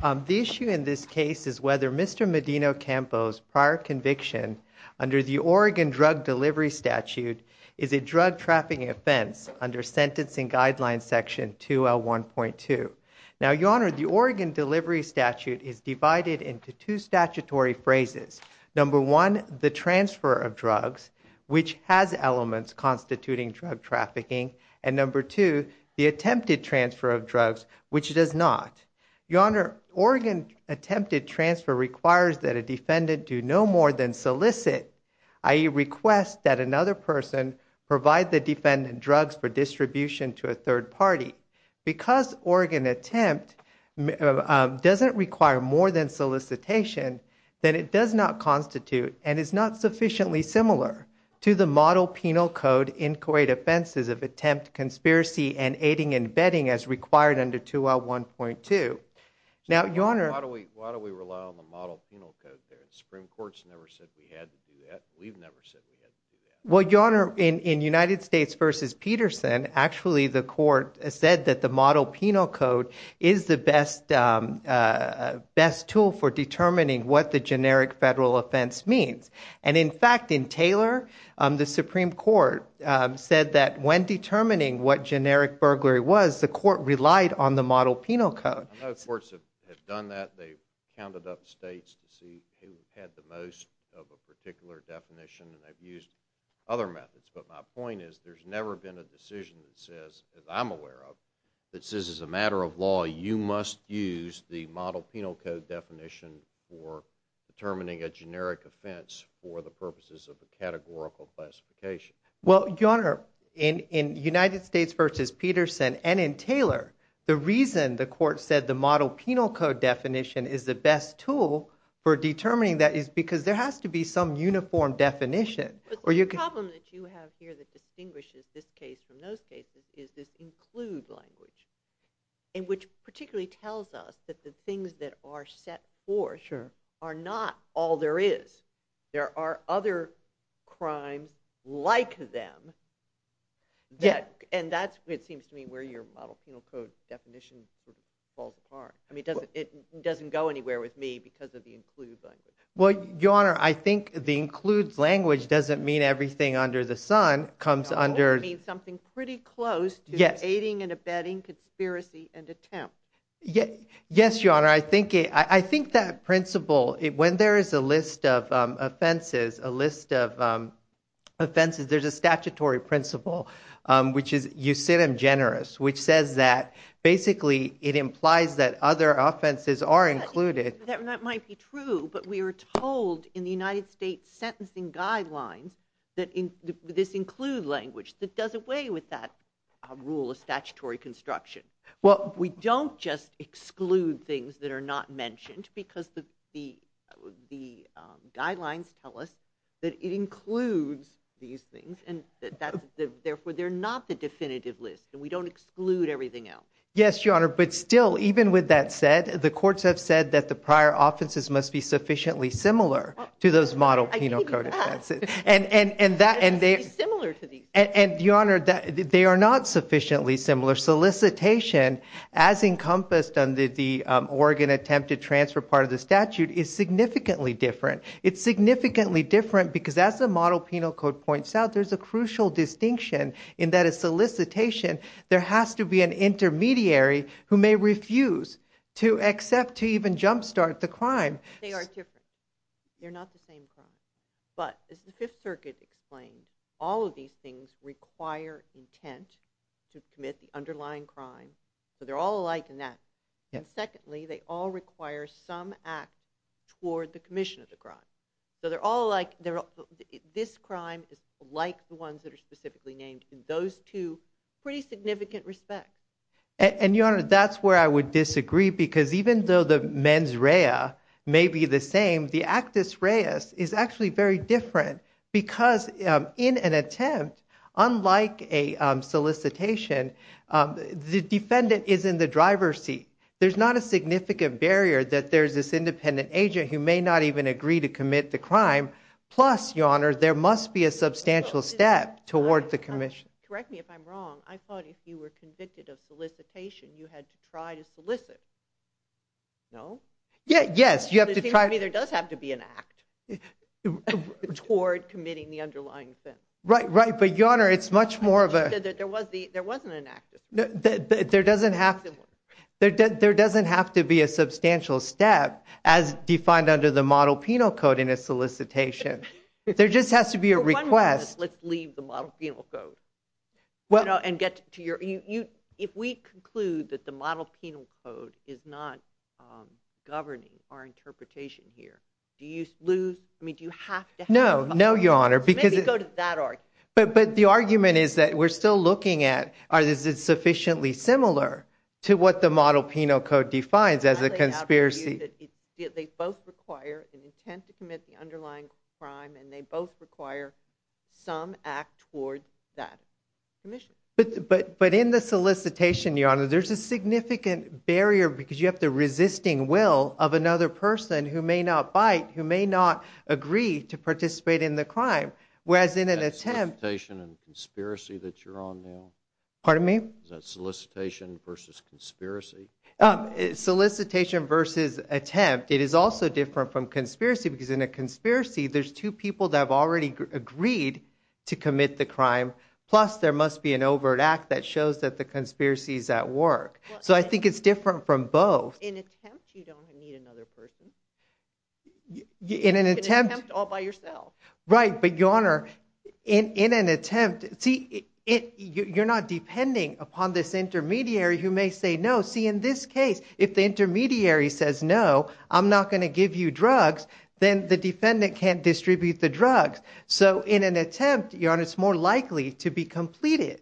The issue in this case is whether Mr. Medina-Campo's prior conviction under the Oregon Drug Delivery Statute is a drug trafficking offense under Sentencing Guidelines Section 2L1.2. Now, Your Honor, the Oregon Delivery Statute is divided into two statutory phrases. Number one, the transfer of drugs, which has elements constituting drug trafficking. And number two, the attempted transfer of drugs, which does not. Your Honor, Oregon attempted transfer requires that a defendant do no more than solicit, i.e., request that another person provide the defendant drugs for distribution to a third party. Because Oregon attempt doesn't require more than solicitation, then it does not constitute and is not sufficiently similar to the model penal code inquiry defenses of attempt conspiracy and aiding and bedding as required under 2L1.2. Now, Your Honor. Why do we rely on the model penal code? The Supreme Court's never said we had to do that. We've never said we had to do that. Well, Your Honor, in United States v. Peterson, actually the court said that the model penal code is the best tool for determining what the generic federal offense means. And in fact, in Taylor, the Supreme Court said that when determining what generic burglary was, the court relied on the model penal code. I know courts have done that. They've counted up states to see who had the most of a particular definition, and they've used other methods. But my point is there's never been a decision that says, as I'm aware of, that says as a matter of law, you must use the model penal code definition for determining a generic offense for the purposes of a categorical classification. Well, Your Honor, in United States v. Peterson and in Taylor, the reason the court said the model penal code definition is the best tool for determining that is because there has to be some uniform definition. The problem that you have here that distinguishes this case from those cases is this include language, which particularly tells us that the things that are set forth are not all there is. There are other crimes like them. And that's, it seems to me, where your model penal code definition falls apart. I mean, it doesn't go anywhere with me because of the include language. Well, Your Honor, I think the include language doesn't mean everything under the sun. It means something pretty close to aiding and abetting conspiracy and attempt. Yes, Your Honor. I think that principle, when there is a list of offenses, a list of offenses, there's a statutory principle, which is eucidem generis, which says that basically it implies that other offenses are included. That might be true, but we are told in the United States sentencing guidelines that this include language that does away with that rule of statutory construction. Well, we don't just exclude things that are not mentioned because the guidelines tell us that it includes these things. And therefore, they're not the definitive list. We don't exclude everything else. Yes, Your Honor. But still, even with that said, the courts have said that the prior offenses must be sufficiently similar to those model penal code. And Your Honor, they are not sufficiently similar. Solicitation, as encompassed under the Oregon attempted transfer part of the statute, is significantly different. It's significantly different because as the model penal code points out, there's a crucial distinction in that a solicitation, there has to be an intermediary who may refuse to accept to even jumpstart the crime. They are different. They're not the same crime. But as the Fifth Circuit explained, all of these things require intent to commit the underlying crime. So they're all alike in that. And secondly, they all require some act toward the commission of the crime. So they're all alike. This crime is like the ones that are specifically named in those two pretty significant respects. And Your Honor, that's where I would disagree. Because even though the mens rea may be the same, the actus reus is actually very different. Because in an attempt, unlike a solicitation, the defendant is in the driver's seat. There's not a significant barrier that there's this independent agent who may not even agree to commit the crime. Plus, Your Honor, there must be a substantial step toward the commission. Correct me if I'm wrong. I thought if you were convicted of solicitation, you had to try to solicit. No? Yes. It seems to me there does have to be an act toward committing the underlying sin. Right, right. But Your Honor, it's much more of a... There wasn't an act. There doesn't have to be a substantial step as defined under the model penal code in a solicitation. There just has to be a request. Let's leave the model penal code and get to your... If we conclude that the model penal code is not governing our interpretation here, do you lose... I mean, do you have to have... No. No, Your Honor. Maybe go to that argument. But the argument is that we're still looking at is it sufficiently similar to what the model penal code defines as a conspiracy. They both require an intent to commit the underlying crime, and they both require some act toward that commission. But in the solicitation, Your Honor, there's a significant barrier because you have the resisting will of another person who may not bite, who may not agree to participate in the crime, whereas in an attempt... Is that solicitation and conspiracy that you're on now? Pardon me? Is that solicitation versus conspiracy? Solicitation versus attempt. It is also different from conspiracy because in a conspiracy, there's two people that have already agreed to commit the crime. Plus, there must be an overt act that shows that the conspiracy is at work. So I think it's different from both. In an attempt, you don't need another person. In an attempt... In an attempt, all by yourself. Right, but Your Honor, in an attempt... You're not depending upon this intermediary who may say no. See, in this case, if the intermediary says no, I'm not going to give you drugs, then the defendant can't distribute the drugs. So in an attempt, Your Honor, it's more likely to be completed.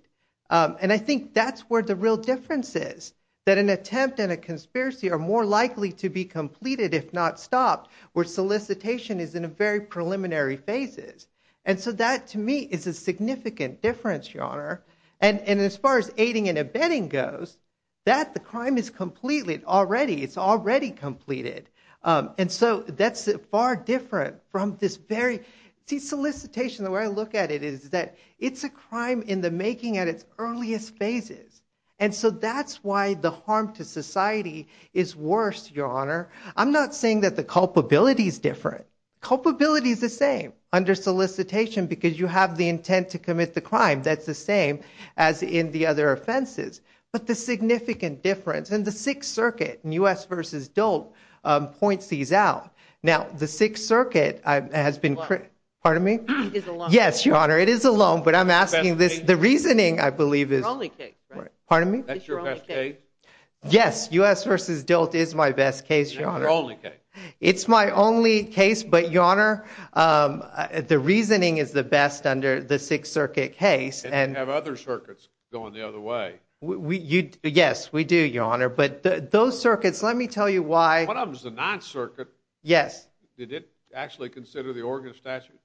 And I think that's where the real difference is, that an attempt and a conspiracy are more likely to be completed if not stopped, where solicitation is in a very preliminary phases. And so that, to me, is a significant difference, Your Honor. And as far as aiding and abetting goes, that, the crime is completely already, it's already completed. And so that's far different from this very... See, solicitation, the way I look at it is that it's a crime in the making at its earliest phases. And so that's why the harm to society is worse, Your Honor. I'm not saying that the culpability is different. Culpability is the same under solicitation because you have the intent to commit the crime. That's the same as in the other offenses. But the significant difference in the Sixth Circuit in U.S. v. Dolt points these out. Now, the Sixth Circuit has been... Pardon me? Yes, Your Honor, it is a loan, but I'm asking this. The reasoning, I believe, is... Pardon me? It's your only case. It's my only case, but, Your Honor, the reasoning is the best under the Sixth Circuit case. And you have other circuits going the other way. Yes, we do, Your Honor. But those circuits, let me tell you why... One of them is the Ninth Circuit. Yes. Did it actually consider the Oregon statute?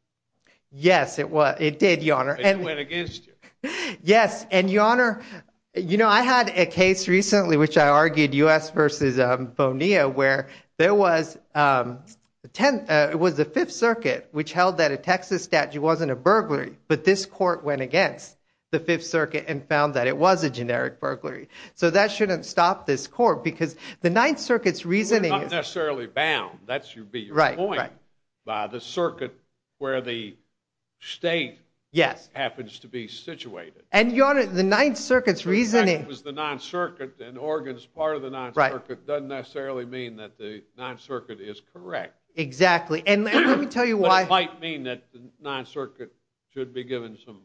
Yes, it did, Your Honor. And it went against you. Yes, and, Your Honor, you know, I had a case recently which I argued U.S. v. Bonilla where there was the Fifth Circuit which held that a Texas statute wasn't a burglary, but this court went against the Fifth Circuit and found that it was a generic burglary. So that shouldn't stop this court because the Ninth Circuit's reasoning... It's not necessarily bound. That should be your point. Right, right. By the circuit where the state happens to be situated. And, Your Honor, the Ninth Circuit's reasoning... In fact, it was the Ninth Circuit and Oregon's part of the Ninth Circuit. Right. Doesn't necessarily mean that the Ninth Circuit is correct. Exactly, and let me tell you why... But it might mean that the Ninth Circuit should be given some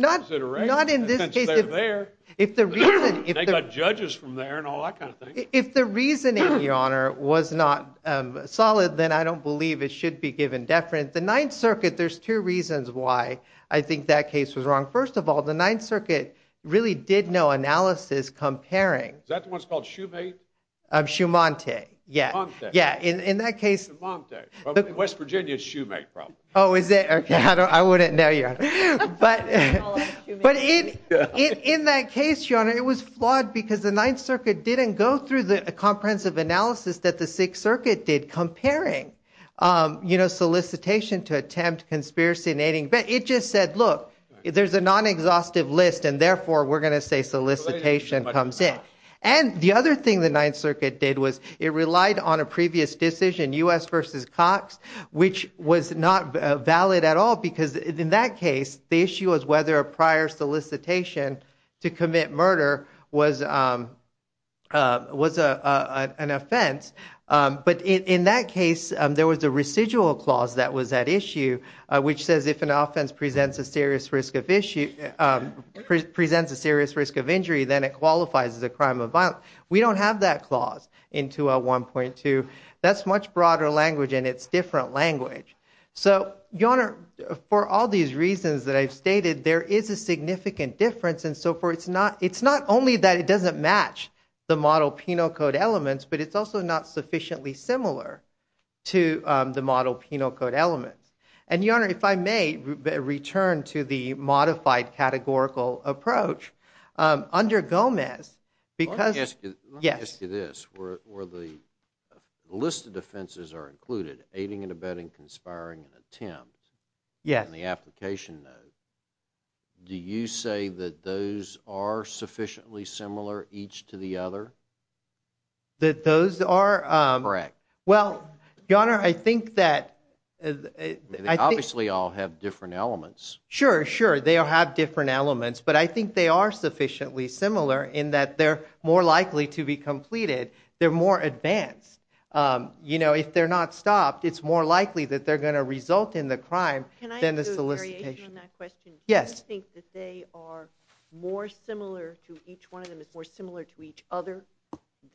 consideration. Not in this case. Since they're there. If the reason... They got judges from there and all that kind of thing. If the reasoning, Your Honor, was not solid, then I don't believe it should be given deference. The Ninth Circuit, there's two reasons why I think that case was wrong. First of all, the Ninth Circuit really did no analysis comparing... Is that the one that's called Shumate? Shumante, yeah. Shumante. Yeah, in that case... Shumante. In West Virginia, it's Shumate probably. Oh, is it? Okay, I wouldn't know, Your Honor. But in that case, Your Honor, it was flawed because the Ninth Circuit didn't go through the comprehensive analysis that the Sixth Circuit did comparing solicitation to attempt, conspiracy and aiding. It just said, look, there's a non-exhaustive list and therefore we're going to say solicitation comes in. And the other thing the Ninth Circuit did was it relied on a previous decision, U.S. v. Cox, which was not valid at all because in that case, the issue was whether a prior solicitation to commit murder was an offense. But in that case, there was a residual clause that was at issue, which says if an offense presents a serious risk of injury, then it qualifies as a crime of violence. We don't have that clause in 2L1.2. That's much broader language, and it's different language. So, Your Honor, for all these reasons that I've stated, there is a significant difference, and so it's not only that it doesn't match the model penal code elements, but it's also not sufficiently similar to the model penal code elements. And, Your Honor, if I may return to the modified categorical approach, under Gomez, because – Let me ask you this. Where the list of offenses are included, aiding and abetting, conspiring and attempt, and the application note, do you say that those are sufficiently similar each to the other? That those are – Correct. Well, Your Honor, I think that – They obviously all have different elements. Sure, sure, they all have different elements, but I think they are sufficiently similar in that they're more likely to be completed. They're more advanced. You know, if they're not stopped, it's more likely that they're going to result in the crime than the solicitation. Can I ask a variation on that question? Yes. Do you think that they are more similar to – each one of them is more similar to each other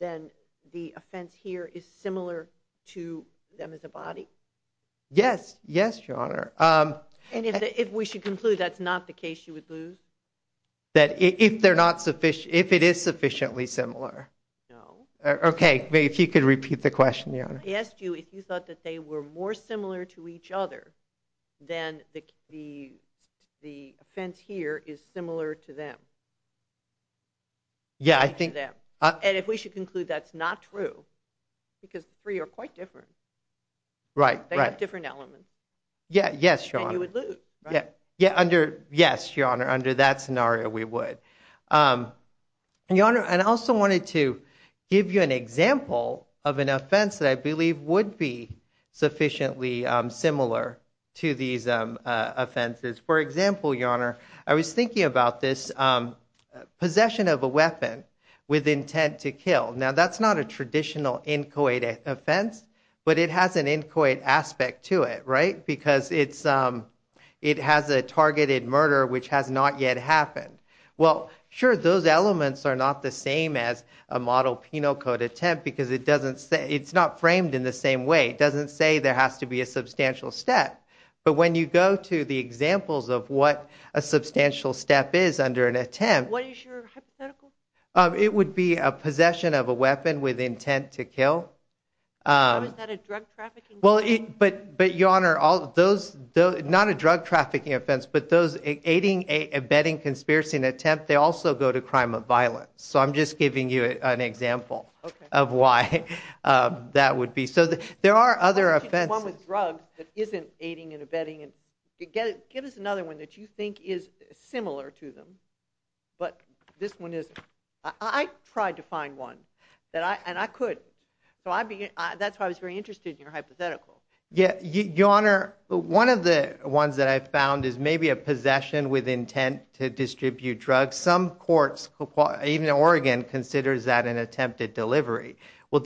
than the offense here is similar to them as a body? Yes, yes, Your Honor. And if we should conclude that's not the case, you would lose? That if they're not – if it is sufficiently similar. No. Okay, if you could repeat the question, Your Honor. I asked you if you thought that they were more similar to each other than the offense here is similar to them. Yeah, I think – And if we should conclude that's not true, because the three are quite different. Right, right. They have different elements. Yeah, yes, Your Honor. And you would lose, right? Yes, Your Honor, under that scenario we would. Your Honor, I also wanted to give you an example of an offense that I believe would be sufficiently similar to these offenses. For example, Your Honor, I was thinking about this possession of a weapon with intent to kill. Now, that's not a traditional inchoate offense, but it has an inchoate aspect to it, right, because it has a targeted murder which has not yet happened. Well, sure, those elements are not the same as a model penal code attempt, because it's not framed in the same way. It doesn't say there has to be a substantial step. But when you go to the examples of what a substantial step is under an attempt, What is your hypothetical? It would be a possession of a weapon with intent to kill. Oh, is that a drug trafficking offense? But, Your Honor, not a drug trafficking offense, but those aiding, abetting, conspiracy, and attempt, they also go to crime of violence. So I'm just giving you an example of why that would be. So there are other offenses. One with drugs that isn't aiding and abetting. Give us another one that you think is similar to them. But this one is, I tried to find one, and I couldn't. That's why I was very interested in your hypothetical. Your Honor, one of the ones that I found is maybe a possession with intent to distribute drugs. Some courts, even Oregon, considers that an attempt at delivery. Well,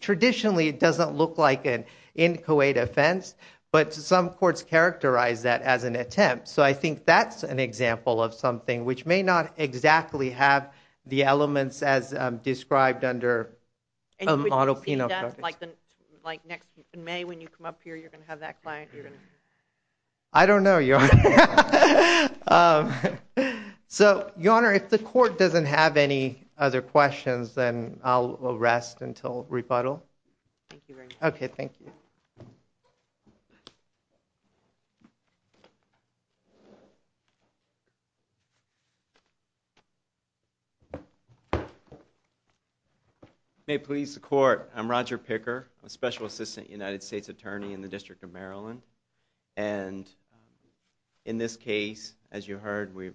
traditionally it doesn't look like an in Kuwait offense, but some courts characterize that as an attempt. So I think that's an example of something which may not exactly have the elements as described under auto penal code. And would you see that next May when you come up here, you're going to have that client? I don't know, Your Honor. So, Your Honor, if the court doesn't have any other questions, then I'll rest until rebuttal. Thank you very much. Okay, thank you. May it please the court, I'm Roger Picker, Special Assistant United States Attorney in the District of Maryland. And in this case, as you heard, we've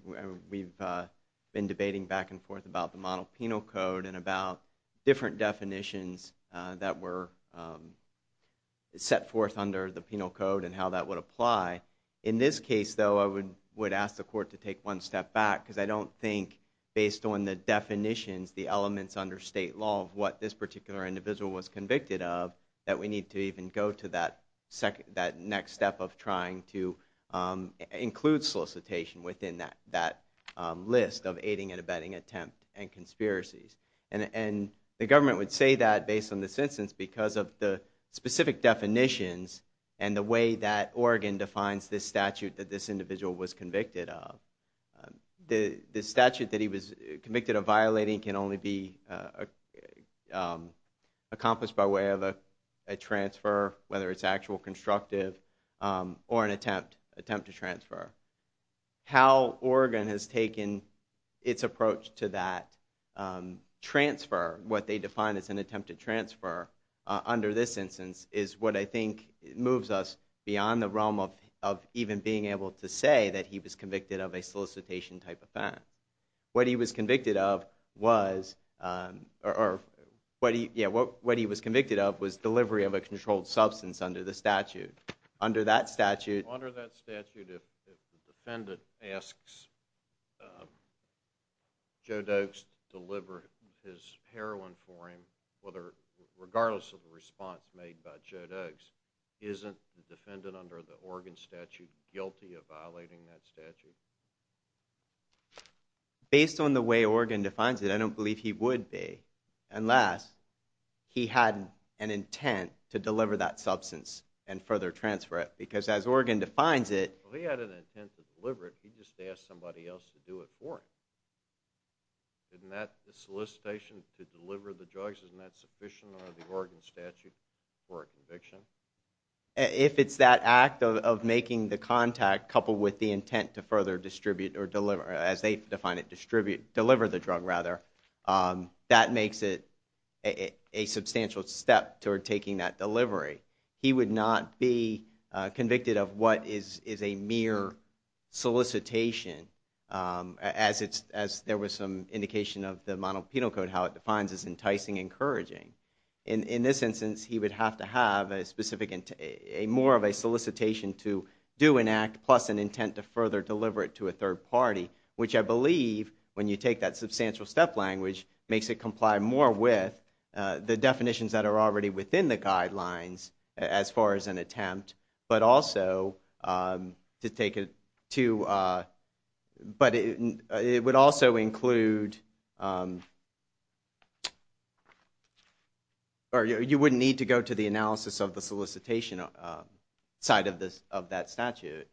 been debating back and forth about the model penal code and about different definitions that were set forth under the penal code and how that would apply. In this case, though, I would ask the court to take one step back because I don't think, based on the definitions, the elements under state law of what this particular individual was convicted of, that we need to even go to that next step of trying to include solicitation within that list of aiding and abetting attempt and conspiracies. And the government would say that based on this instance because of the specific definitions and the way that Oregon defines this statute that this individual was convicted of. The statute that he was convicted of violating can only be accomplished by way of a transfer, whether it's actual constructive or an attempt to transfer. How Oregon has taken its approach to that transfer, what they define as an attempt to transfer under this instance, is what I think moves us beyond the realm of even being able to say that he was convicted of a solicitation-type offense. What he was convicted of was delivery of a controlled substance under the statute. Under that statute... Under that statute, if the defendant asks Joe Dukes to deliver his heroin for him, regardless of the response made by Joe Dukes, isn't the defendant under the Oregon statute guilty of violating that statute? Based on the way Oregon defines it, I don't believe he would be, unless he had an intent to deliver that substance and further transfer it. Because as Oregon defines it... If he had an intent to deliver it, he just asked somebody else to do it for him. Isn't that solicitation to deliver the drugs, isn't that sufficient under the Oregon statute for a conviction? If it's that act of making the contact coupled with the intent to further distribute or deliver, as they define it, deliver the drug, that makes it a substantial step toward taking that delivery. He would not be convicted of what is a mere solicitation, as there was some indication of the Monopoly Penal Code, how it defines as enticing and encouraging. In this instance, he would have to have more of a solicitation to do an act plus an intent to further deliver it to a third party, which I believe, when you take that substantial step language, makes it comply more with the definitions that are already within the guidelines as far as an attempt, but also to take it to... It would also include... You wouldn't need to go to the analysis of the solicitation side of that statute.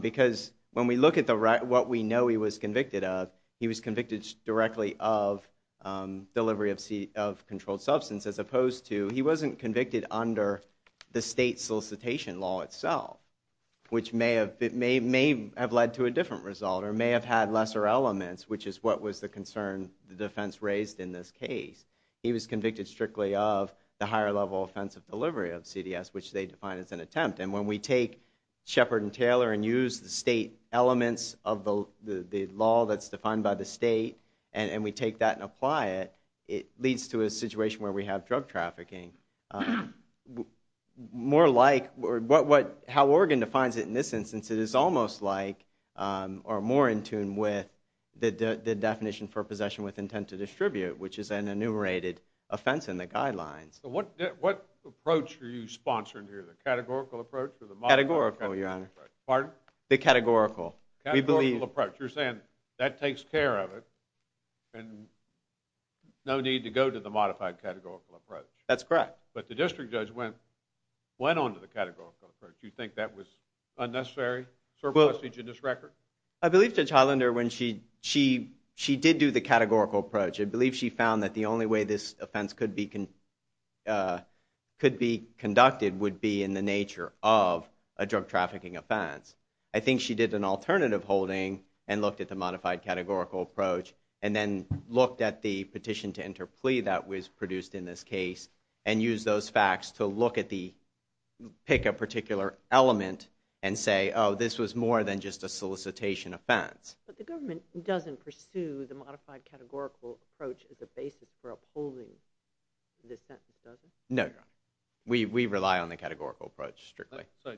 Because when we look at what we know he was convicted of, he was convicted directly of delivery of controlled substance, as opposed to he wasn't convicted under the state solicitation law itself, which may have led to a different result, or may have had lesser elements, which is what was the concern the defense raised in this case. He was convicted strictly of the higher level offensive delivery of CDS, which they define as an attempt. And when we take Shepard and Taylor and use the state elements of the law that's defined by the state, and we take that and apply it, it leads to a situation where we have drug trafficking. More like how Oregon defines it in this instance, it is almost like, or more in tune with, the definition for possession with intent to distribute, which is an enumerated offense in the guidelines. So what approach are you sponsoring here? The categorical approach or the modified categorical approach? Categorical, Your Honor. Pardon? The categorical. Categorical approach. You're saying that takes care of it, and no need to go to the modified categorical approach. That's correct. But the district judge went on to the categorical approach. Do you think that was unnecessary surplusage in this record? I believe Judge Highlander, when she did do the categorical approach, I believe she found that the only way this offense could be conducted would be in the nature of a drug trafficking offense. I think she did an alternative holding and looked at the modified categorical approach and then looked at the petition to enter plea that was produced in this case and used those facts to look at the, pick a particular element and say, oh, this was more than just a solicitation offense. But the government doesn't pursue the modified categorical approach as a basis for upholding this sentence, does it? No, Your Honor. We rely on the categorical approach strictly. So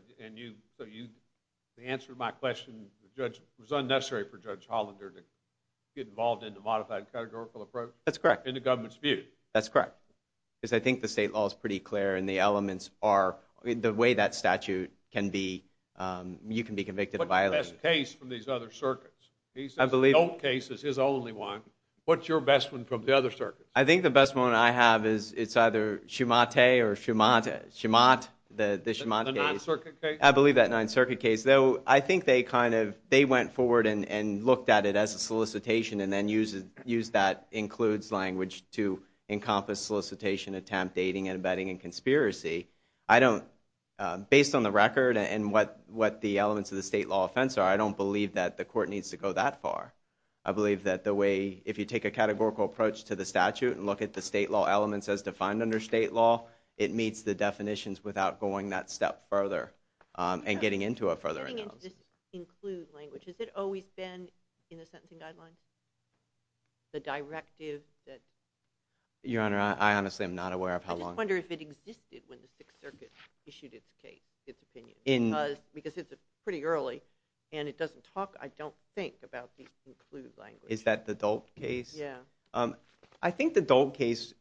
the answer to my question, it was unnecessary for Judge Highlander to get involved in the modified categorical approach? That's correct. In the government's view? That's correct. Because I think the state law is pretty clear and the elements are, the way that statute can be, you can be convicted of violation. What's the best case from these other circuits? I believe... He says the Dope case is his only one. What's your best one from the other circuits? I think the best one I have is it's either Schumate or Schumat, Schumat, the Schumat case. The Ninth Circuit case? I believe that Ninth Circuit case. Though I think they kind of, they went forward and looked at it as a solicitation and then used that includes language to encompass solicitation, attempt, dating, and abetting, and conspiracy. I don't, based on the record and what the elements of the state law offense are, I don't believe that the court needs to go that far. I believe that the way, if you take a categorical approach to the statute and look at the state law elements as defined under state law, it meets the definitions without going that step further and getting into a further analysis. Does this include language? Has it always been in the sentencing guidelines? The directive that... Your Honor, I honestly am not aware of how long... I just wonder if it existed when the Sixth Circuit issued its case, its opinion, because it's pretty early and it doesn't talk, I don't think, about the include language. Is that the Dope case? Yeah. I think the Dope case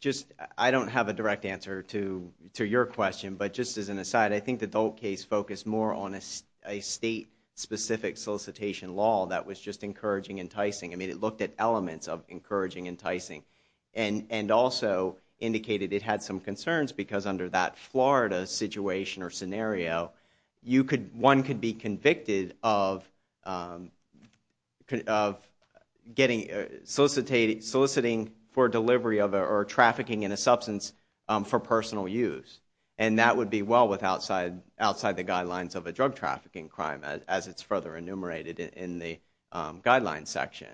just, I don't have a direct answer to your question, but just as an aside, I think the Dope case focused more on a state-specific solicitation law that was just encouraging, enticing. I mean, it looked at elements of encouraging, enticing and also indicated it had some concerns because under that Florida situation or scenario, one could be convicted of getting, soliciting for delivery of, or trafficking in a substance for personal use, and that would be well outside the guidelines of a drug trafficking crime, as it's further enumerated in the guidelines section.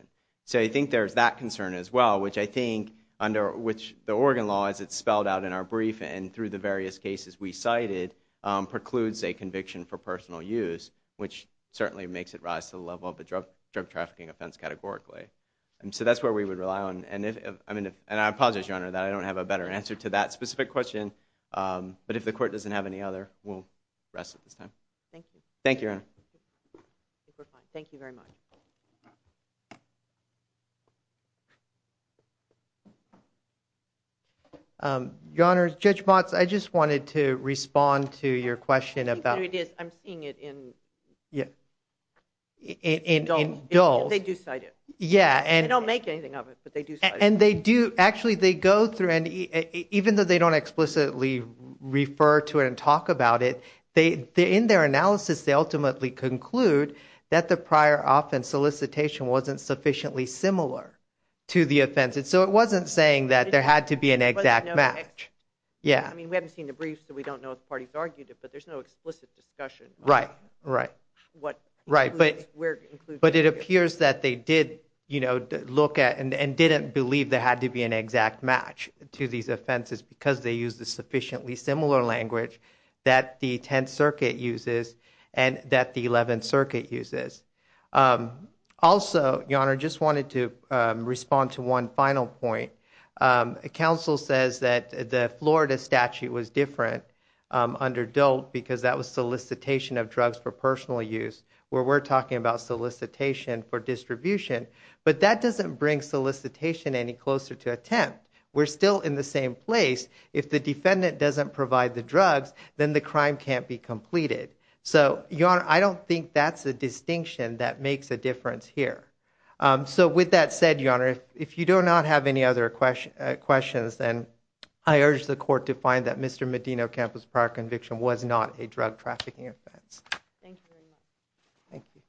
So I think there's that concern as well, which I think, under which the Oregon law, as it's spelled out in our brief and through the various cases we cited, precludes a conviction for personal use, which certainly makes it rise to the level of a drug trafficking offense categorically. So that's where we would rely on, and I apologize, Your Honor, that I don't have a better answer to that specific question. But if the court doesn't have any other, we'll rest at this time. Thank you. Thank you, Your Honor. I think we're fine. Thank you very much. Your Honor, Judge Motz, I just wanted to respond to your question about... I think there it is. I'm seeing it in... Yeah. In DOLT. They do cite it. Yeah, and... They don't make anything of it, but they do cite it. And they do, actually, they go through, and even though they don't explicitly refer to it and talk about it, in their analysis, they ultimately conclude that the prior offense solicitation wasn't sufficiently similar to the offense. So it wasn't saying that there had to be an exact match. Yeah. I mean, we haven't seen the brief, so we don't know if parties argued it, but there's no explicit discussion... Right, right. ...of what... Right, but it appears that they did, you know, look at and didn't believe there had to be an exact match to these offenses, because they used a sufficiently similar language that the 10th Circuit uses and that the 11th Circuit uses. Also, Your Honor, I just wanted to respond to one final point. Counsel says that the Florida statute was different under DOLT, because that was solicitation of drugs for personal use, where we're talking about solicitation for distribution. But that doesn't bring solicitation any closer to a 10th. We're still in the same place. If the defendant doesn't provide the drugs, then the crime can't be completed. So, Your Honor, I don't think that's a distinction that makes a difference here. So with that said, Your Honor, if you do not have any other questions, then I urge the court to find that Mr. Medino Campos' prior conviction was not a drug trafficking offense. Thank you very much. Thank you.